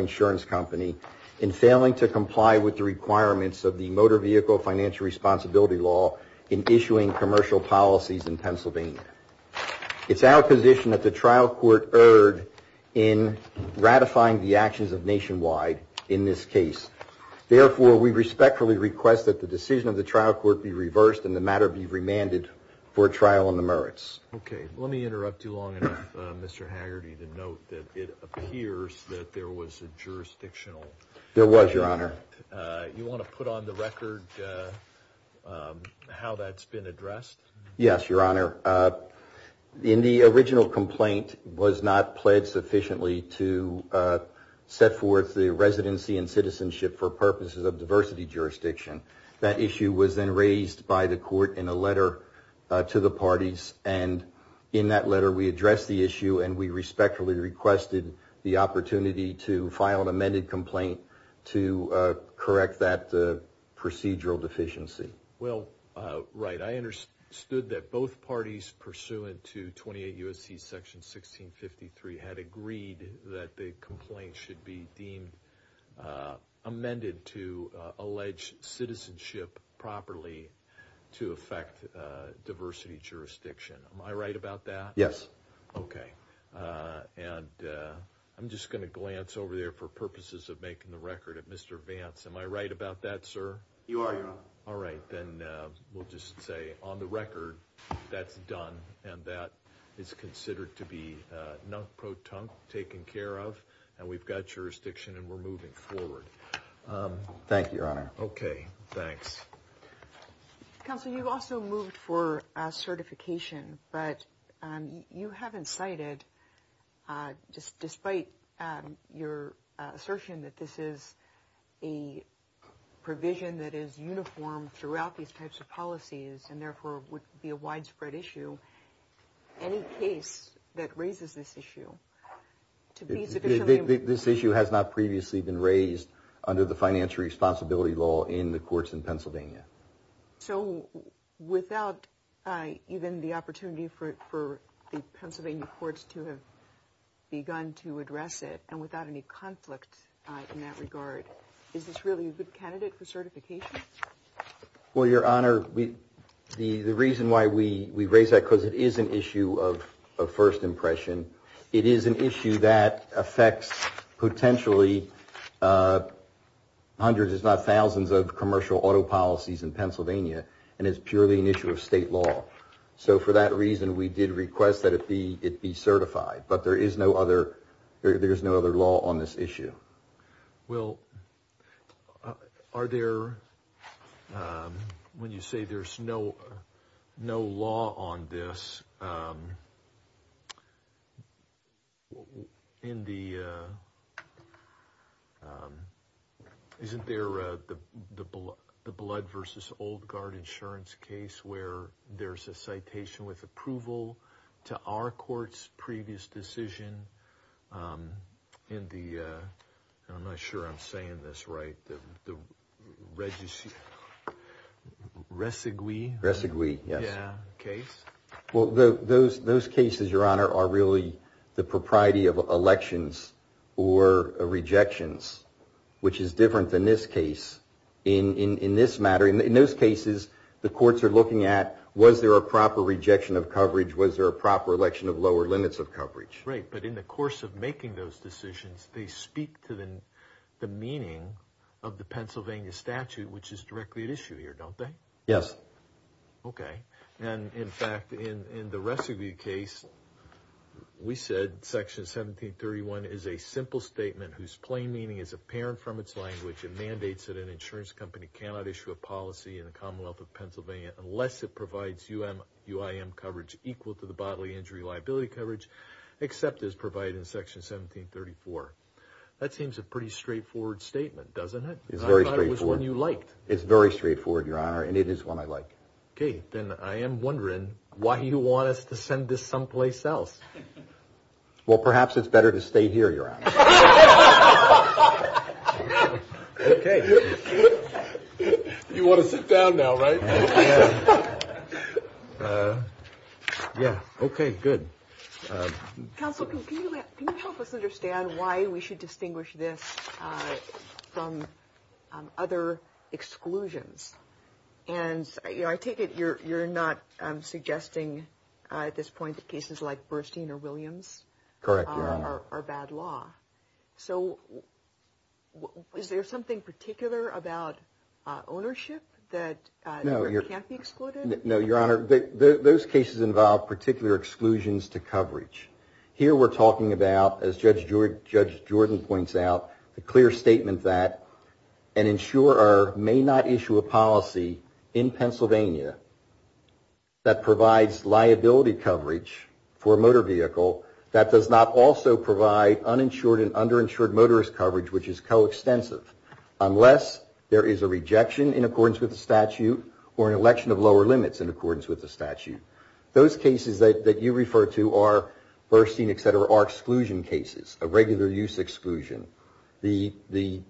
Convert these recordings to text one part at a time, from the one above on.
Insurance Company, in failing to comply with the requirements of the Motor Vehicle Financial Responsibility Law in issuing commercial policies in Pennsylvania. It's our position that the trial court erred in ratifying the actions of Nationwide in this case. Therefore, we respectfully request that the decision of the trial court be reversed and the matter be remanded for trial on the merits. Okay, let me interrupt you long enough, Mr. Haggerty, to note that it appears that there was a jurisdictional... There was, Your Honor. You want to put on the record how that's been addressed? Yes, Your Honor. In the original complaint was not pledged sufficiently to set forth the residency and citizenship for purposes of diversity jurisdiction. That issue was then raised by the court in a letter to the parties, and in that letter we addressed the issue and we respectfully requested the opportunity to correct that procedural deficiency. Well, right. I understood that both parties pursuant to 28 U.S.C. Section 1653 had agreed that the complaint should be deemed amended to allege citizenship properly to affect diversity jurisdiction. Am I right about that? Yes. Okay, and I'm just going to glance over for purposes of making the record at Mr. Vance. Am I right about that, sir? You are, Your Honor. All right, then we'll just say on the record that's done and that is considered to be taken care of and we've got jurisdiction and we're moving forward. Thank you, Your Honor. Okay, thanks. Counsel, you've also moved for certification, but you haven't cited, just despite your assertion that this is a provision that is uniform throughout these types of policies and therefore would be a widespread issue, any case that raises this issue to be... This issue has not previously been raised under the financial responsibility law in the courts to have begun to address it and without any conflict in that regard, is this really a good candidate for certification? Well, Your Honor, the reason why we raise that because it is an issue of first impression. It is an issue that affects potentially hundreds, if not thousands, of commercial auto policies in Pennsylvania and is purely an issue of state law. So for that reason, we did request that it be certified, but there is no other law on this issue. Well, are there... When you say there's no law on this, in the... Isn't there the Blood v. Old Guard insurance case where there's a citation with approval to our court's previous decision in the... I'm not sure I'm saying this right... Resigui? Resigui, yes. Yeah, case. Well, those cases, Your Honor, are really the propriety of elections or rejections, which is different than this case. In this matter, in those cases, the courts are looking at was there a proper rejection of coverage, was there a proper election of lower limits of coverage? Right, but in the course of making those decisions, they speak to the meaning of the Pennsylvania statute, which is directly at issue here, don't they? Yes. Okay, and in fact, in the Resigui case, we said Section 1731 is a simple statement whose plain meaning is apparent from its language. It mandates that an insurance company cannot issue a policy in the Commonwealth of Pennsylvania unless it provides UIM coverage equal to the bodily injury liability coverage, except as provided in Section 1734. That seems a pretty straightforward statement, doesn't it? It's very straightforward. I thought it was one you liked. It's very straightforward, Your Honor, and it is one I like. Okay, then I am wondering why you want us to send this someplace else? Well, perhaps it's better to stay here, Your Honor. Okay. You want to sit down now, right? Yeah, okay, good. Counsel, can you help us understand why we should distinguish this from other exclusions? And I take it you're not suggesting at this point that cases like this, so is there something particular about ownership that can't be excluded? No, Your Honor, those cases involve particular exclusions to coverage. Here we're talking about, as Judge Jordan points out, the clear statement that an insurer may not issue a policy in Pennsylvania that provides liability coverage for a motor vehicle that does not also provide uninsured and underinsured motorist coverage, which is coextensive, unless there is a rejection in accordance with the statute or an election of lower limits in accordance with the statute. Those cases that you refer to are, Burstein, et cetera, are exclusion cases, a regular use exclusion. The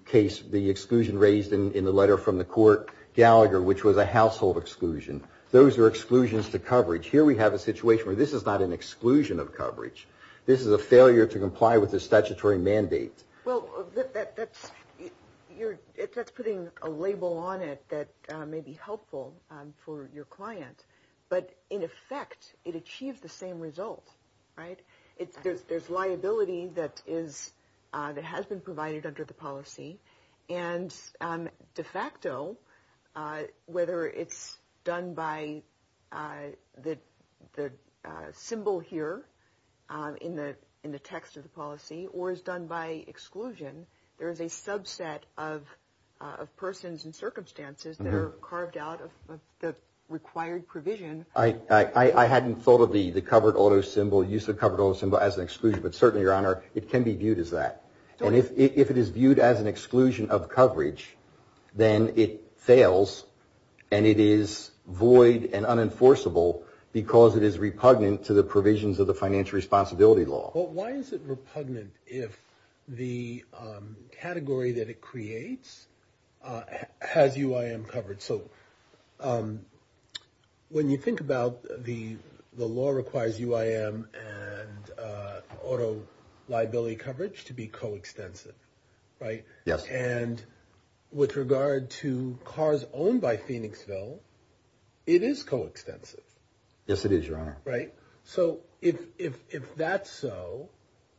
case, the exclusion raised in the letter from the court, Gallagher, which was a household exclusion. Those are exclusions to coverage. Here we have a situation where this is not an exclusion of coverage. This is a failure to comply with the statutory mandate. Well, that's putting a label on it that may be helpful for your client, but in effect, it achieves the same result, right? There's liability that has been provided under the policy and de facto, whether it's done by the symbol here in the text of the policy or is done by exclusion, there is a subset of persons and circumstances that are carved out of the required provision. I hadn't thought of the covered auto symbol, use the covered auto symbol as an exclusion, but certainly, Your Honor, it can be viewed as that. And if it is viewed as an exclusion of coverage, then it fails and it is void and unenforceable because it is repugnant to the provisions of the financial responsibility law. Well, why is it repugnant if the category that it creates has UIM covered? So when you think about the law requires UIM and auto liability coverage to be coextensive, right? And with regard to cars owned by Phoenixville, it is coextensive. Yes, it is, Your Honor. Right. So if that's so,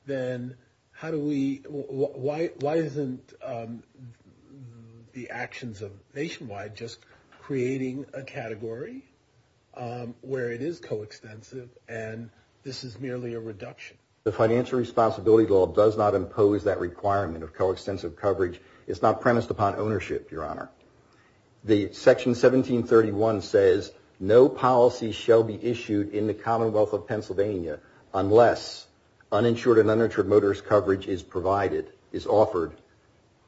then how do we, why isn't the actions of Nationwide just creating a category where it is coextensive and this is merely a reduction? The financial responsibility law does not impose that requirement of coextensive coverage. It's not premised upon ownership, Your Honor. The section 1731 says, no policy shall be issued in the Commonwealth of Pennsylvania unless uninsured and uninsured motorist coverage is provided, is offered,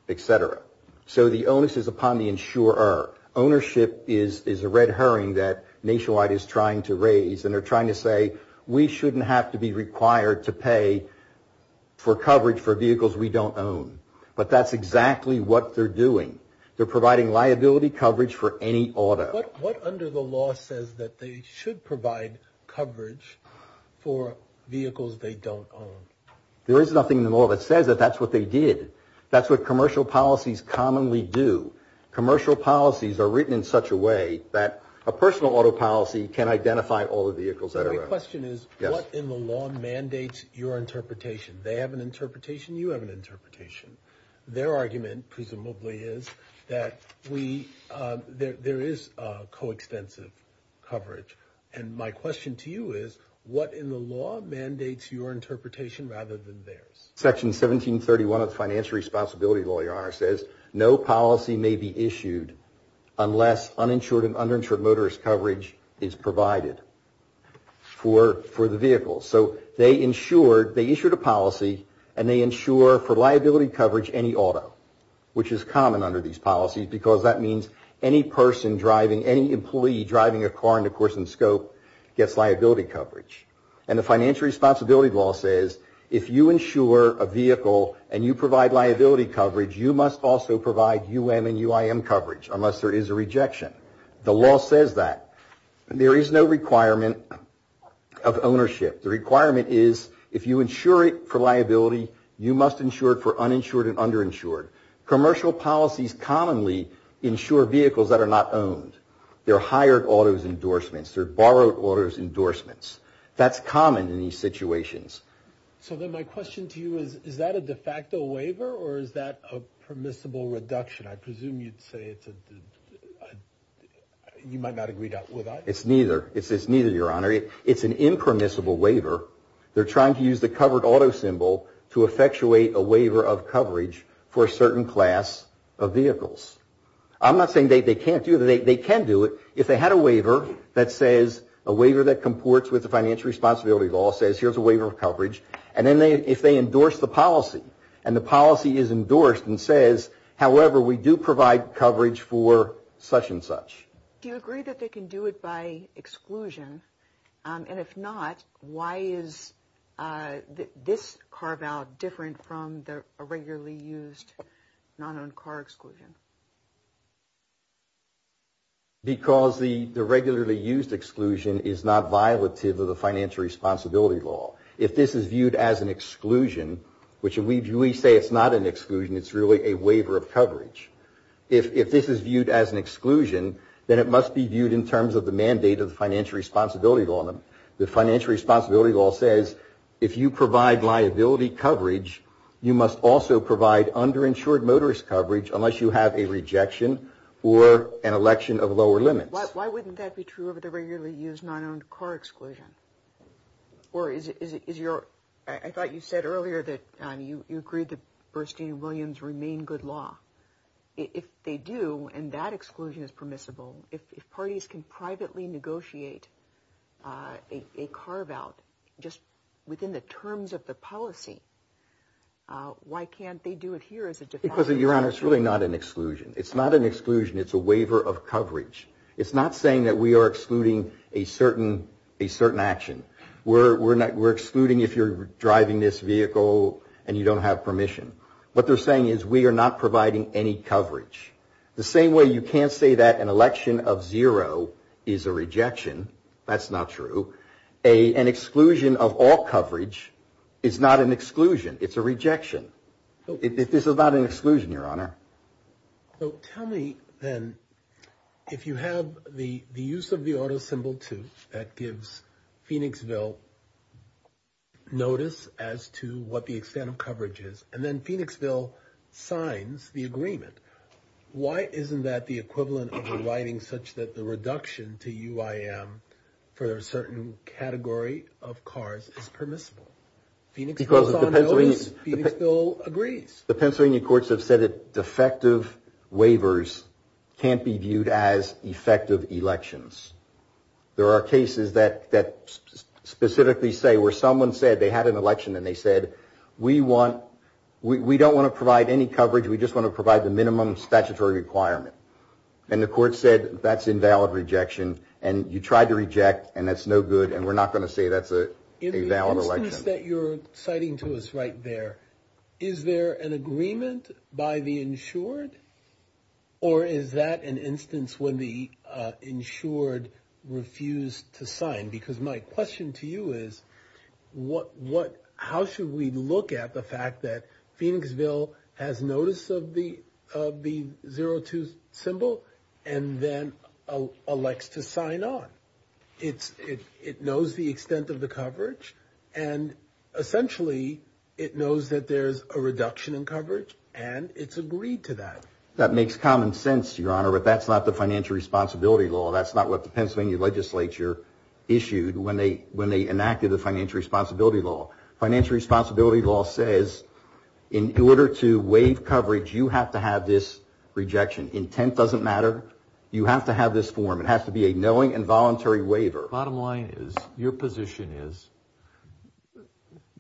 et cetera. So the onus is upon the insurer. Ownership is a red herring that Nationwide is trying to raise and they're trying to say, we shouldn't have to be required to pay for coverage for vehicles we don't own. But that's exactly what they're doing. They're providing liability coverage for any auto. What under the law says that they should provide coverage for vehicles they don't own? There is nothing in the law that says that that's what they did. That's what commercial policies commonly do. Commercial policies are written in such a way that a personal auto policy can identify all the vehicles that are owned. My question is, what in the law mandates your interpretation? They have an interpretation, you have an interpretation. Their argument, presumably, is that there is coextensive coverage. And my question to you is, what in the law mandates your interpretation rather than theirs? Section 1731 of the financial responsibility law, Your Honor, says no policy may be issued unless uninsured and uninsured motorist coverage is provided for the vehicle. So they insured, they issued a policy and they insure for liability coverage any auto, which is common under these policies because that means any person driving, any employee driving a car in the course and scope gets liability coverage. And the financial responsibility law says if you insure a vehicle and you provide liability coverage, you must also provide UM and UIM coverage unless there is a rejection. The law says that. There is no requirement of ownership. The requirement is if you insure it for liability, you must insure it for uninsured and underinsured. Commercial policies commonly insure vehicles that are not owned. They're hired autos endorsements, they're borrowed autos endorsements. That's common in these situations. So then my question to you is, is that a de facto waiver or is that a permissible reduction? I presume you'd say it's a, you might not agree with that. It's neither. It's neither, Your Honor. It's an impermissible waiver. They're trying to use the covered auto symbol to effectuate a waiver of coverage for a certain class of vehicles. I'm not saying they can't do it. They can do it if they had a waiver that says, a waiver that comports with the financial responsibility law says here's a waiver of coverage. And then if they endorse the policy and the policy is endorsed and says, however, we do provide coverage for such and such. Do you agree that they can do it by exclusion? And if not, why is this carve out different from the regularly used non-owned car exclusion? Because the regularly used exclusion is not violative of the financial responsibility law. If this is viewed as an exclusion, which we say it's not an exclusion, it's really a waiver of coverage. If this is viewed as an exclusion, then it must be viewed in terms of the mandate of the financial responsibility law. The financial responsibility law says if you provide liability coverage, you must also provide underinsured motorist coverage unless you have a rejection or an election of lower limits. Why wouldn't that be true of the regularly used non-owned car exclusion? Or is it, is your, I thought you said earlier that you agreed that Bernstein and Williams remain good law. If they do and that exclusion is permissible, if parties can privately negotiate a carve out just within the terms of the policy, why can't they do it here as a default? Because your honor, it's really not an exclusion. It's not an exclusion. It's a waiver of coverage. It's not saying that we are excluding a certain, a certain action. We're, we're not, we're excluding if you're driving this vehicle and you don't have permission. What they're saying is we are not providing any coverage. The same way you can't say that an election of zero is a rejection. That's not true. An exclusion of all coverage is not an exclusion. It's a rejection. This is not an exclusion, your honor. So tell me then, if you have the, the use of the auto symbol too, that gives Phoenixville notice as to what the extent of coverage is. And then Phoenixville signs the agreement. Why isn't that the equivalent of a writing such that the reduction to UIM for a certain category of cars is permissible? Phoenixville agrees. The Pennsylvania courts have said it effective waivers can't be viewed as effective elections. There are cases that, that specifically say where someone said they had an election and they said, we want, we don't want to provide any coverage. We just want to provide the minimum statutory requirement. And the court said, that's invalid rejection. And you tried to reject and that's no good. And we're not going to say that's a valid election. In the instance that you're citing to us right there, is there an agreement by the insured or is that an instance when the insured refused to sign? Because my question to you is what, what, how should we look at the fact that Phoenixville has notice of the, of the 02 symbol and then elects to sign on? It's, it, it knows the extent of the coverage and essentially it knows that there's a reduction in coverage and it's agreed to that. That makes common sense, your honor, but that's not the financial responsibility law. That's not what the Pennsylvania legislature issued when they, when they enacted the financial responsibility law. Financial responsibility law says in order to waive coverage, you have to have this rejection. Intent doesn't matter. You have to have this form. It has to be a knowing and voluntary waiver. Bottom line is your position is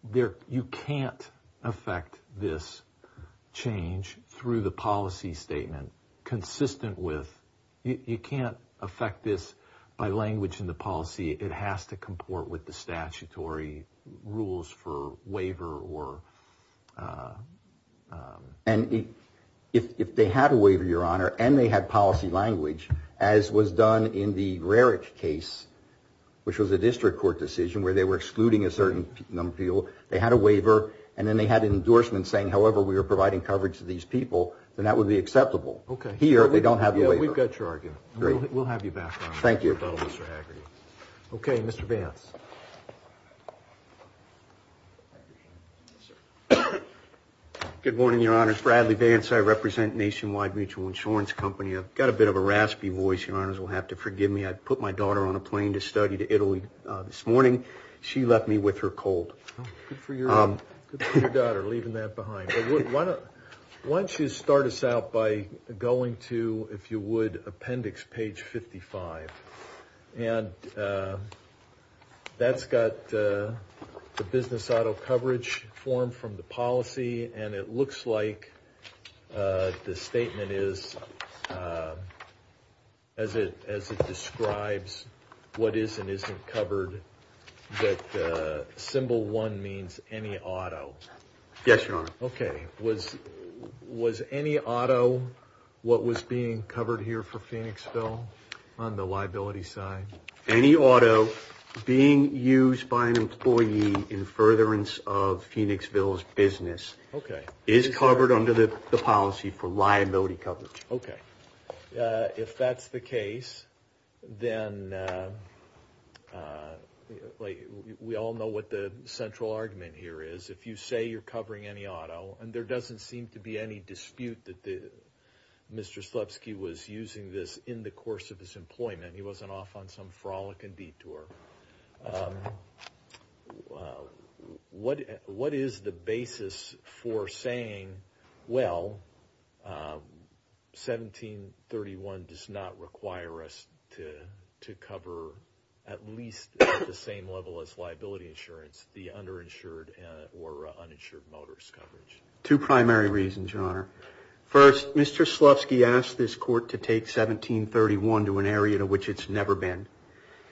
there, you can't affect this change through the policy statement consistent with, you can't affect this by language in the policy. It has to be a mandatory rules for waiver or. And if, if they had a waiver, your honor, and they had policy language as was done in the Raric case, which was a district court decision where they were excluding a certain number of people, they had a waiver and then they had an endorsement saying, however, we were providing coverage to these people, then that would be acceptable. Okay. Here, they don't have the waiver. We've got your argument. Great. We'll have you back on. Thank you. Mr. Haggerty. Okay. Mr. Vance. Good morning, your honors. Bradley Vance. I represent Nationwide Mutual Insurance Company. I've got a bit of a raspy voice. Your honors will have to forgive me. I put my daughter on a plane to study to Italy this morning. She left me with her cold. Good for your daughter, leaving that and that's got the business auto coverage form from the policy. And it looks like the statement is as it, as it describes what is and isn't covered that symbol one means any auto. Yes, your honor. Okay. Was, was any auto what was being covered here for Phoenixville on the liability side? Any auto being used by an employee in furtherance of Phoenixville's business. Okay. Is covered under the policy for liability coverage. Okay. If that's the case, then we all know what the central argument here is. If you say you're covering any auto and there wasn't off on some frolic and detour. What, what is the basis for saying, well, 1731 does not require us to, to cover at least the same level as liability insurance, the underinsured or uninsured motorist coverage. Two primary reasons, your honor. First, Mr. to an area in which it's never been.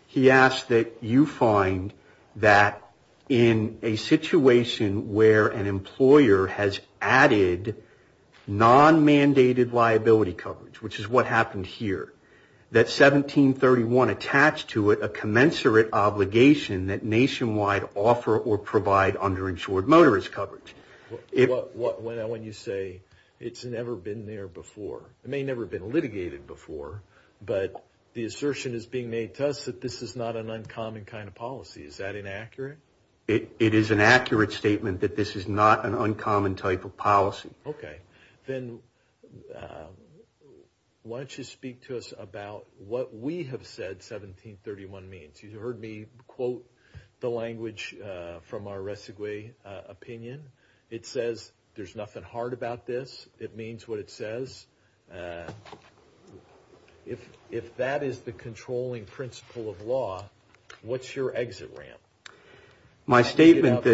He asked that you find that in a situation where an employer has added non-mandated liability coverage, which is what happened here, that 1731 attached to it, a commensurate obligation that nationwide offer or provide underinsured motorist coverage. What, when, when you say it's never been there before, it may never have been litigated before, but the assertion is being made to us that this is not an uncommon kind of policy. Is that inaccurate? It is an accurate statement that this is not an uncommon type of policy. Okay. Then why don't you speak to us about what we have said 1731 means. You heard me quote the language from a opinion. It says there's nothing hard about this. It means what it says. If, if that is the controlling principle of law, what's your exit ramp? My statement,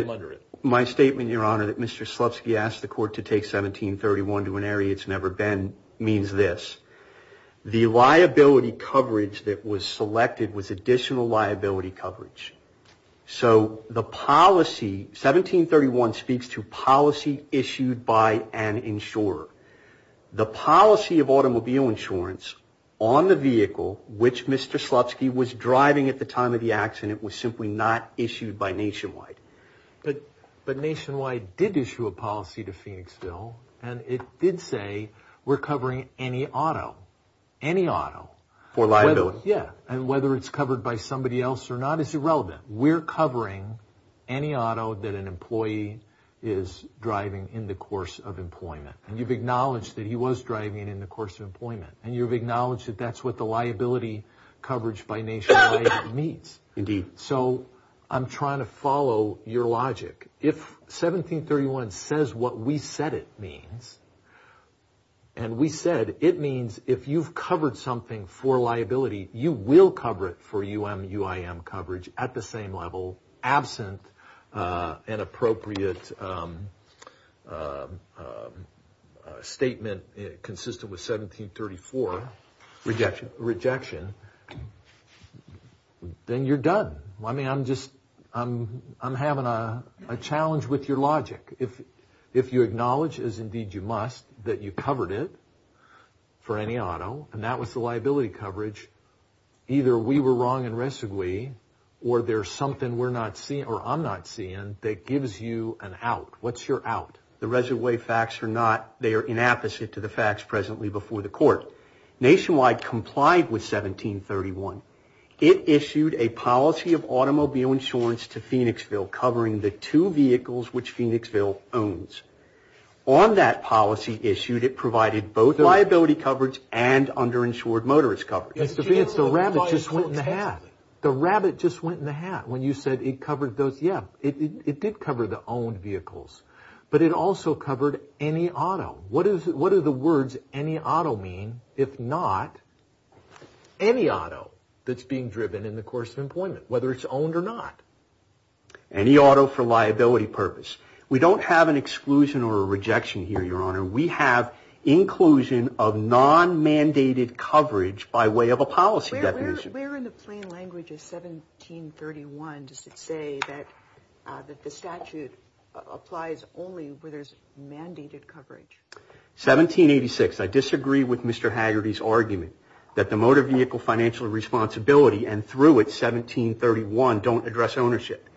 my statement, your honor, that Mr. Slutsky asked the court to take 1731 to an area it's never been means this. The liability coverage that was selected was additional liability coverage. So the policy, 1731 speaks to policy issued by an insurer. The policy of automobile insurance on the vehicle, which Mr. Slutsky was driving at the time of the accident was simply not issued by Nationwide. But, but Nationwide did issue a policy to Phoenixville and it did say we're covering any auto, any auto. For liability. Yeah. And whether it's covered by somebody else or not is irrelevant. We're covering any auto that an employee is driving in the course of employment. And you've acknowledged that he was driving in the course of employment and you've acknowledged that that's what the liability coverage by Nationwide means. Indeed. So I'm trying to follow your logic. If 1731 says what we said it means, and we said it means if you've covered something for liability, you will cover it for UMUIM coverage at the same level, absent an appropriate statement consistent with 1734. Rejection. Rejection. Then you're done. I mean, I'm just, I'm, I'm having a challenge with your logic. If, if you acknowledge as indeed you must, that you covered it for any auto and that was the liability coverage, either we were wrong in Resigwe or there's something we're not seeing or I'm not seeing that gives you an out. What's your out? The Resigwe facts are not, they are inapposite to the facts presently before the court. Nationwide complied with 1731. It issued a policy of automobile insurance to Phoenixville covering the two vehicles which Phoenixville owns. On that policy issued, it provided both liability coverage and underinsured motorist coverage. The rabbit just went in the hat. The rabbit just went in the hat when you said it covered those. Yeah, it did cover the owned vehicles, but it also covered any auto. What is, what are the words any auto mean, if not any auto that's being driven in the course of employment, whether it's owned or not? Any auto for liability purpose. We don't have an exclusion or a rejection here, your honor. We have inclusion of non-mandated coverage by way of a policy definition. Where in the plain language of 1731 does it say that the statute applies only where there's mandated coverage? 1786. I disagree with Mr. Haggerty's argument that the motor vehicle responsibility and through it 1731 don't address ownership.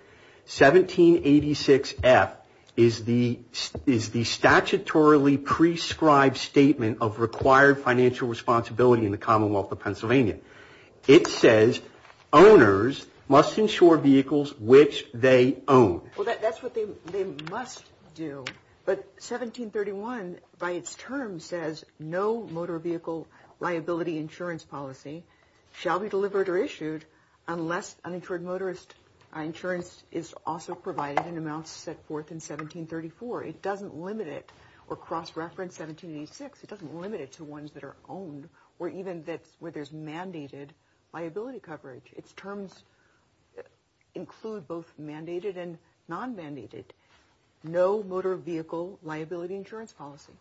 1786 F is the statutorily prescribed statement of required financial responsibility in the Commonwealth of Pennsylvania. It says owners must insure vehicles which they own. Well, that's what they must do, but 1731 by its term says no motor vehicle liability insurance policy shall be delivered or issued unless uninsured motorist insurance is also provided in amounts set forth in 1734. It doesn't limit it or cross-reference 1786. It doesn't limit it to ones that are owned or even that's where there's mandated liability coverage. Its terms include both mandated and non-mandated, no motor vehicle liability insurance policy.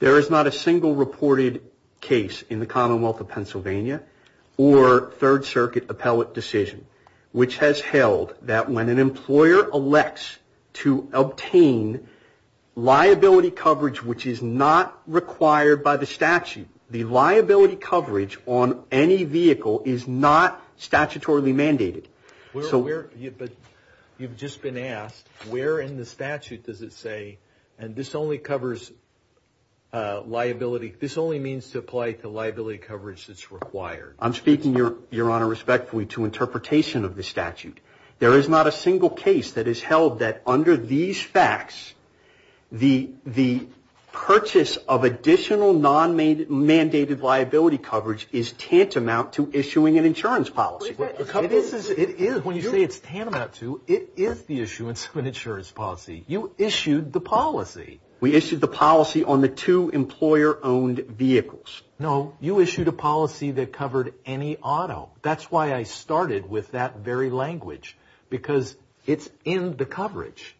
There is not a single reported case in the Commonwealth of Pennsylvania or Third Circuit appellate decision which has held that when an employer elects to obtain liability coverage which is not required by the statute, the liability coverage on any vehicle is not statutorily mandated. But you've just been asked, where in the statute does it say, and this only covers liability, this only means to apply to liability coverage that's required? I'm speaking, Your Honor, respectfully to interpretation of the statute. There is not a single case that has held that under these facts, the purchase of additional non-mandated liability coverage is tantamount to issuing an insurance policy. When you say it's tantamount to, it is the issuance of an insurance policy. You issued the policy. We issued the policy on the two employer-owned vehicles. No, you issued a policy that covered any auto. That's why I started with that very language because it's in the coverage.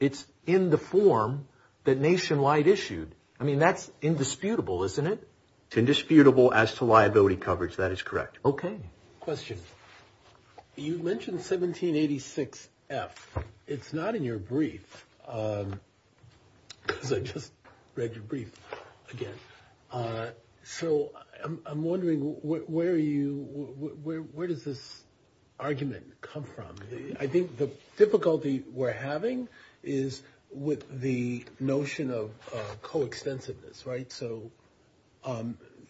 It's in the form that is disputable, isn't it? It's indisputable as to liability coverage. That is correct. Okay. Question. You mentioned 1786F. It's not in your brief because I just read your brief again. So I'm wondering, where are you, where does this argument come from? I think the difficulty we're having is with the notion of coextensiveness, right? So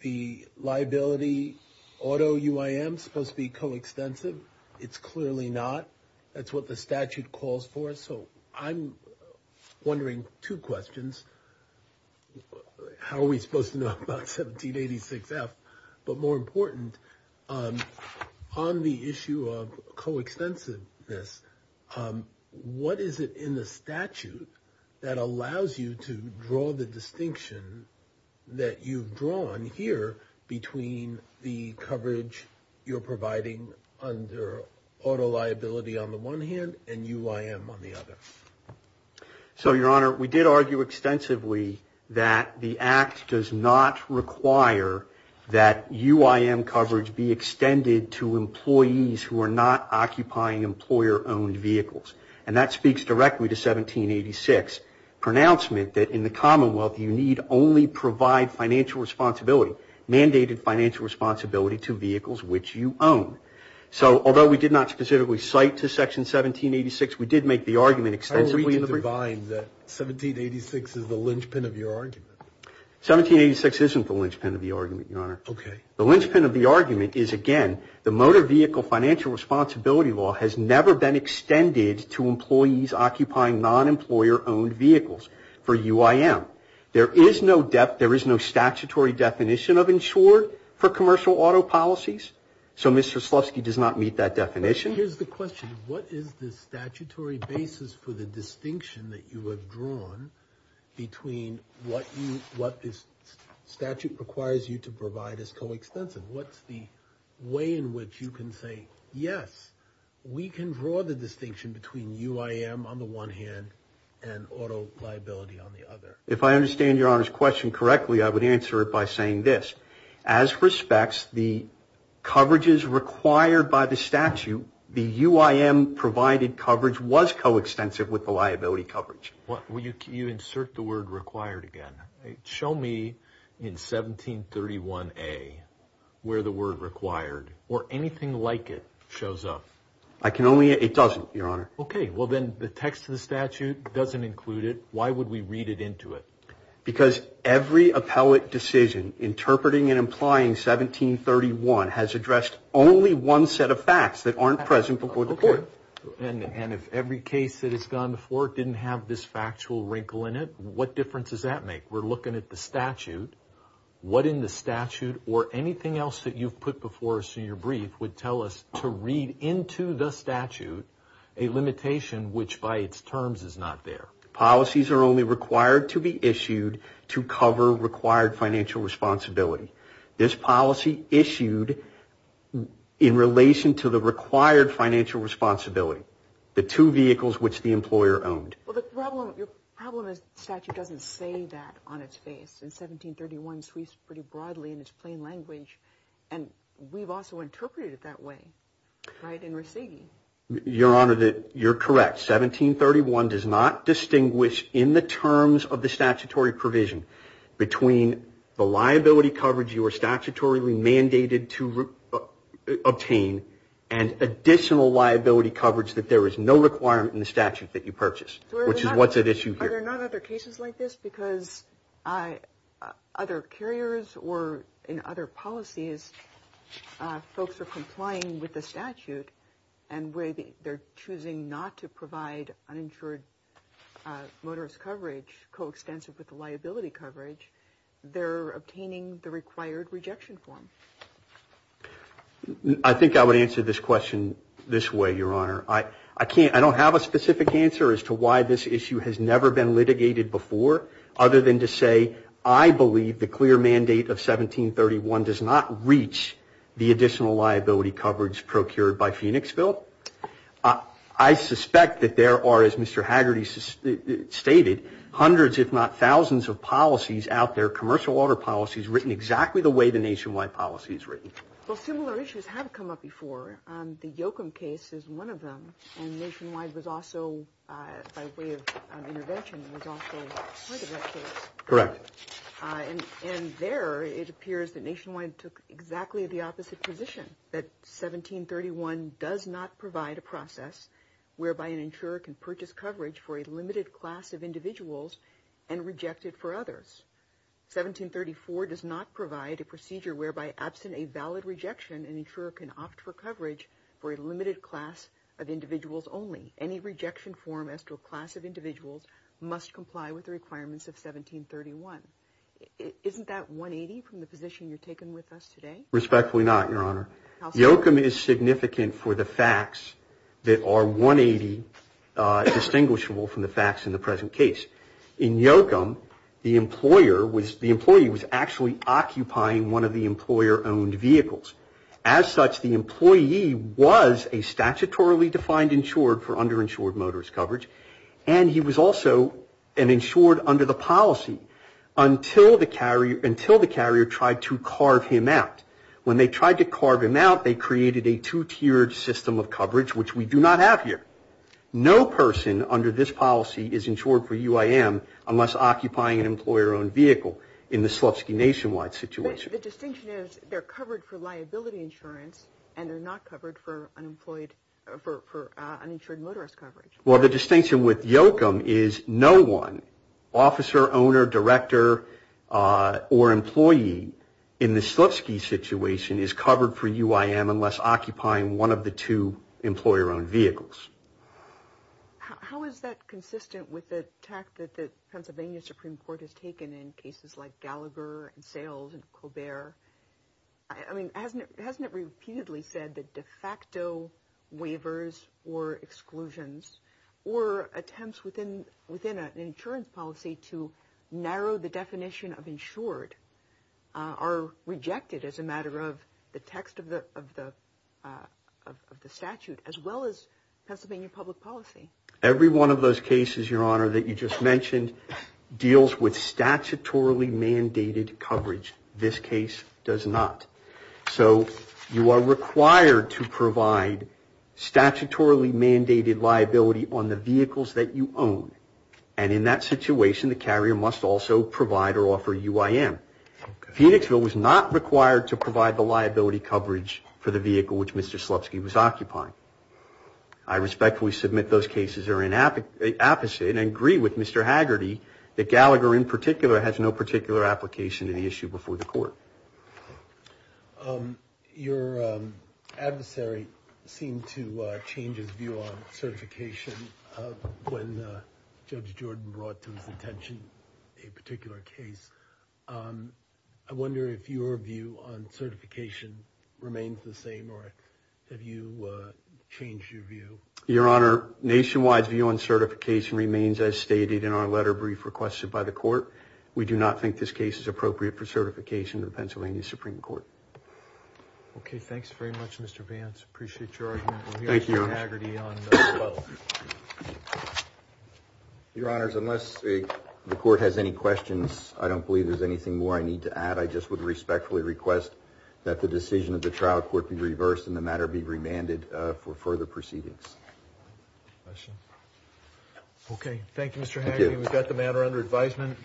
the liability auto UIM supposed to be coextensive. It's clearly not. That's what the statute calls for. So I'm wondering two questions. How are we supposed to know about 1786F? But more important, on the issue of coextensiveness, what is it in the statute that allows you to draw the distinction that you've drawn here between the coverage you're providing under auto liability on the one hand and UIM on the other? So, Your Honor, we did argue extensively that the act does not require that UIM coverage be on vehicles. And that speaks directly to 1786, pronouncement that in the Commonwealth, you need only provide financial responsibility, mandated financial responsibility to vehicles which you own. So although we did not specifically cite to section 1786, we did make the argument extensively in the brief. How are we to define that 1786 is the linchpin of your argument? 1786 isn't the linchpin of the argument, Your Honor. Okay. The linchpin of the argument is, again, the motor vehicle financial responsibility law has never been extended to employees occupying non-employer-owned vehicles for UIM. There is no statutory definition of insured for commercial auto policies. So Mr. Slutsky does not meet that definition. Here's the question. What is the statutory basis for the distinction that you have drawn between what this statute requires you to in which you can say, yes, we can draw the distinction between UIM on the one hand and auto liability on the other? If I understand Your Honor's question correctly, I would answer it by saying this. As respects, the coverages required by the statute, the UIM provided coverage was coextensive with the liability coverage. You insert the word required again. Show me in 1731A where the word required or anything like it shows up. I can only, it doesn't, Your Honor. Okay. Well, then the text of the statute doesn't include it. Why would we read it into it? Because every appellate decision interpreting and implying 1731 has addressed only one set of facts that aren't present before the court. And if every case that has gone before didn't have this factual wrinkle in it, what difference does that make? We're looking at the statute. What in the statute or anything else that you've put before us in your brief would tell us to read into the statute a limitation which by its terms is not there. Policies are only required to be issued to cover required financial responsibility. This policy issued in relation to the Well, the problem, your problem is the statute doesn't say that on its face. And 1731 sweeps pretty broadly in its plain language. And we've also interpreted it that way, right, in Resighi. Your Honor, you're correct. 1731 does not distinguish in the terms of the statutory provision between the liability coverage you are statutorily mandated to obtain and additional liability coverage that there is no requirement in the statute that you purchase. Which is what's at issue here. Are there not other cases like this? Because other carriers or in other policies folks are complying with the statute and where they're choosing not to provide uninsured motorist coverage coextensive with the liability coverage, they're obtaining the required rejection form. I think I would answer this question this way, your Honor. I can't, I don't have a specific answer as to why this issue has never been litigated before other than to say, I believe the clear mandate of 1731 does not reach the additional liability coverage procured by Phoenixville. I suspect that there are, as Mr. Haggerty stated, hundreds if not thousands of policies out there, commercial water policies written exactly the way the nationwide policy is written. Well, similar issues have come up before. The Yoakum case is one of them and nationwide was also by way of intervention was also part of that case. Correct. And there it appears that nationwide took exactly the opposite position. That 1731 does not provide a process whereby an insurer can purchase coverage for a limited class of individuals and reject it for others. 1734 does not provide a procedure whereby absent a valid rejection, an insurer can opt for coverage for a limited class of individuals only. Any rejection form as to a class of individuals must comply with the requirements of 1731. Isn't that 180 from the position you're taking with us today? Respectfully not, your Honor. Yoakum is significant for the facts that are 180 distinguishable from the facts in the present case. In Yoakum, the employer was, the employee was actually occupying one of the employer-owned vehicles. As such, the employee was a statutorily defined insured for underinsured motorist coverage and he was also an insured under the policy until the carrier tried to carve him out. When they tried to carve him out, they created a two-tiered system of coverage, which we do not have here. No person under this policy is insured for UIM unless occupying an employer-owned vehicle in the Slupsky nationwide situation. The distinction is they're covered for liability insurance and they're not covered for unemployed, for uninsured motorist coverage. Well, the distinction with Yoakum is no one, officer, owner, director, or employee in the Slupsky situation is covered for UIM unless occupying one of the two employer-owned vehicles. How is that consistent with the tact that the Pennsylvania Supreme Court has taken in cases like Gallagher and Sales and Colbert? I mean, hasn't it, hasn't it repeatedly said that de facto waivers or exclusions or attempts within, within an insurance policy to narrow the definition of insured are rejected as a matter of the text of the, of the, of the statute as well as Pennsylvania public policy? Every one of those cases, your honor, that you just mentioned deals with statutorily mandated coverage. This case does not. So you are required to provide statutorily mandated liability on the vehicles that you own. And in that situation, the carrier must also provide or offer UIM. Phoenixville was not required to provide the liability coverage for the vehicle which Mr. Slupsky was occupying. I respectfully submit those cases are in app, opposite and agree with Mr. Haggerty that Gallagher in particular has no particular application to the issue before the court. Your adversary seemed to change his view on certification when Judge Jordan brought to attention a particular case. I wonder if your view on certification remains the same or have you changed your view? Your honor, nationwide view on certification remains as stated in our letter brief requested by the court. We do not think this case is appropriate for certification of the Pennsylvania Supreme Court. Okay. Thanks very much, Mr. Vance. Appreciate your argument. Thank you, your honor. Unless the court has any questions, I don't believe there's anything more I need to add. I just would respectfully request that the decision of the trial court be reversed and the matter be remanded for further proceedings. Okay. Thank you, Mr. Haggerty. We've got the matter under advisement.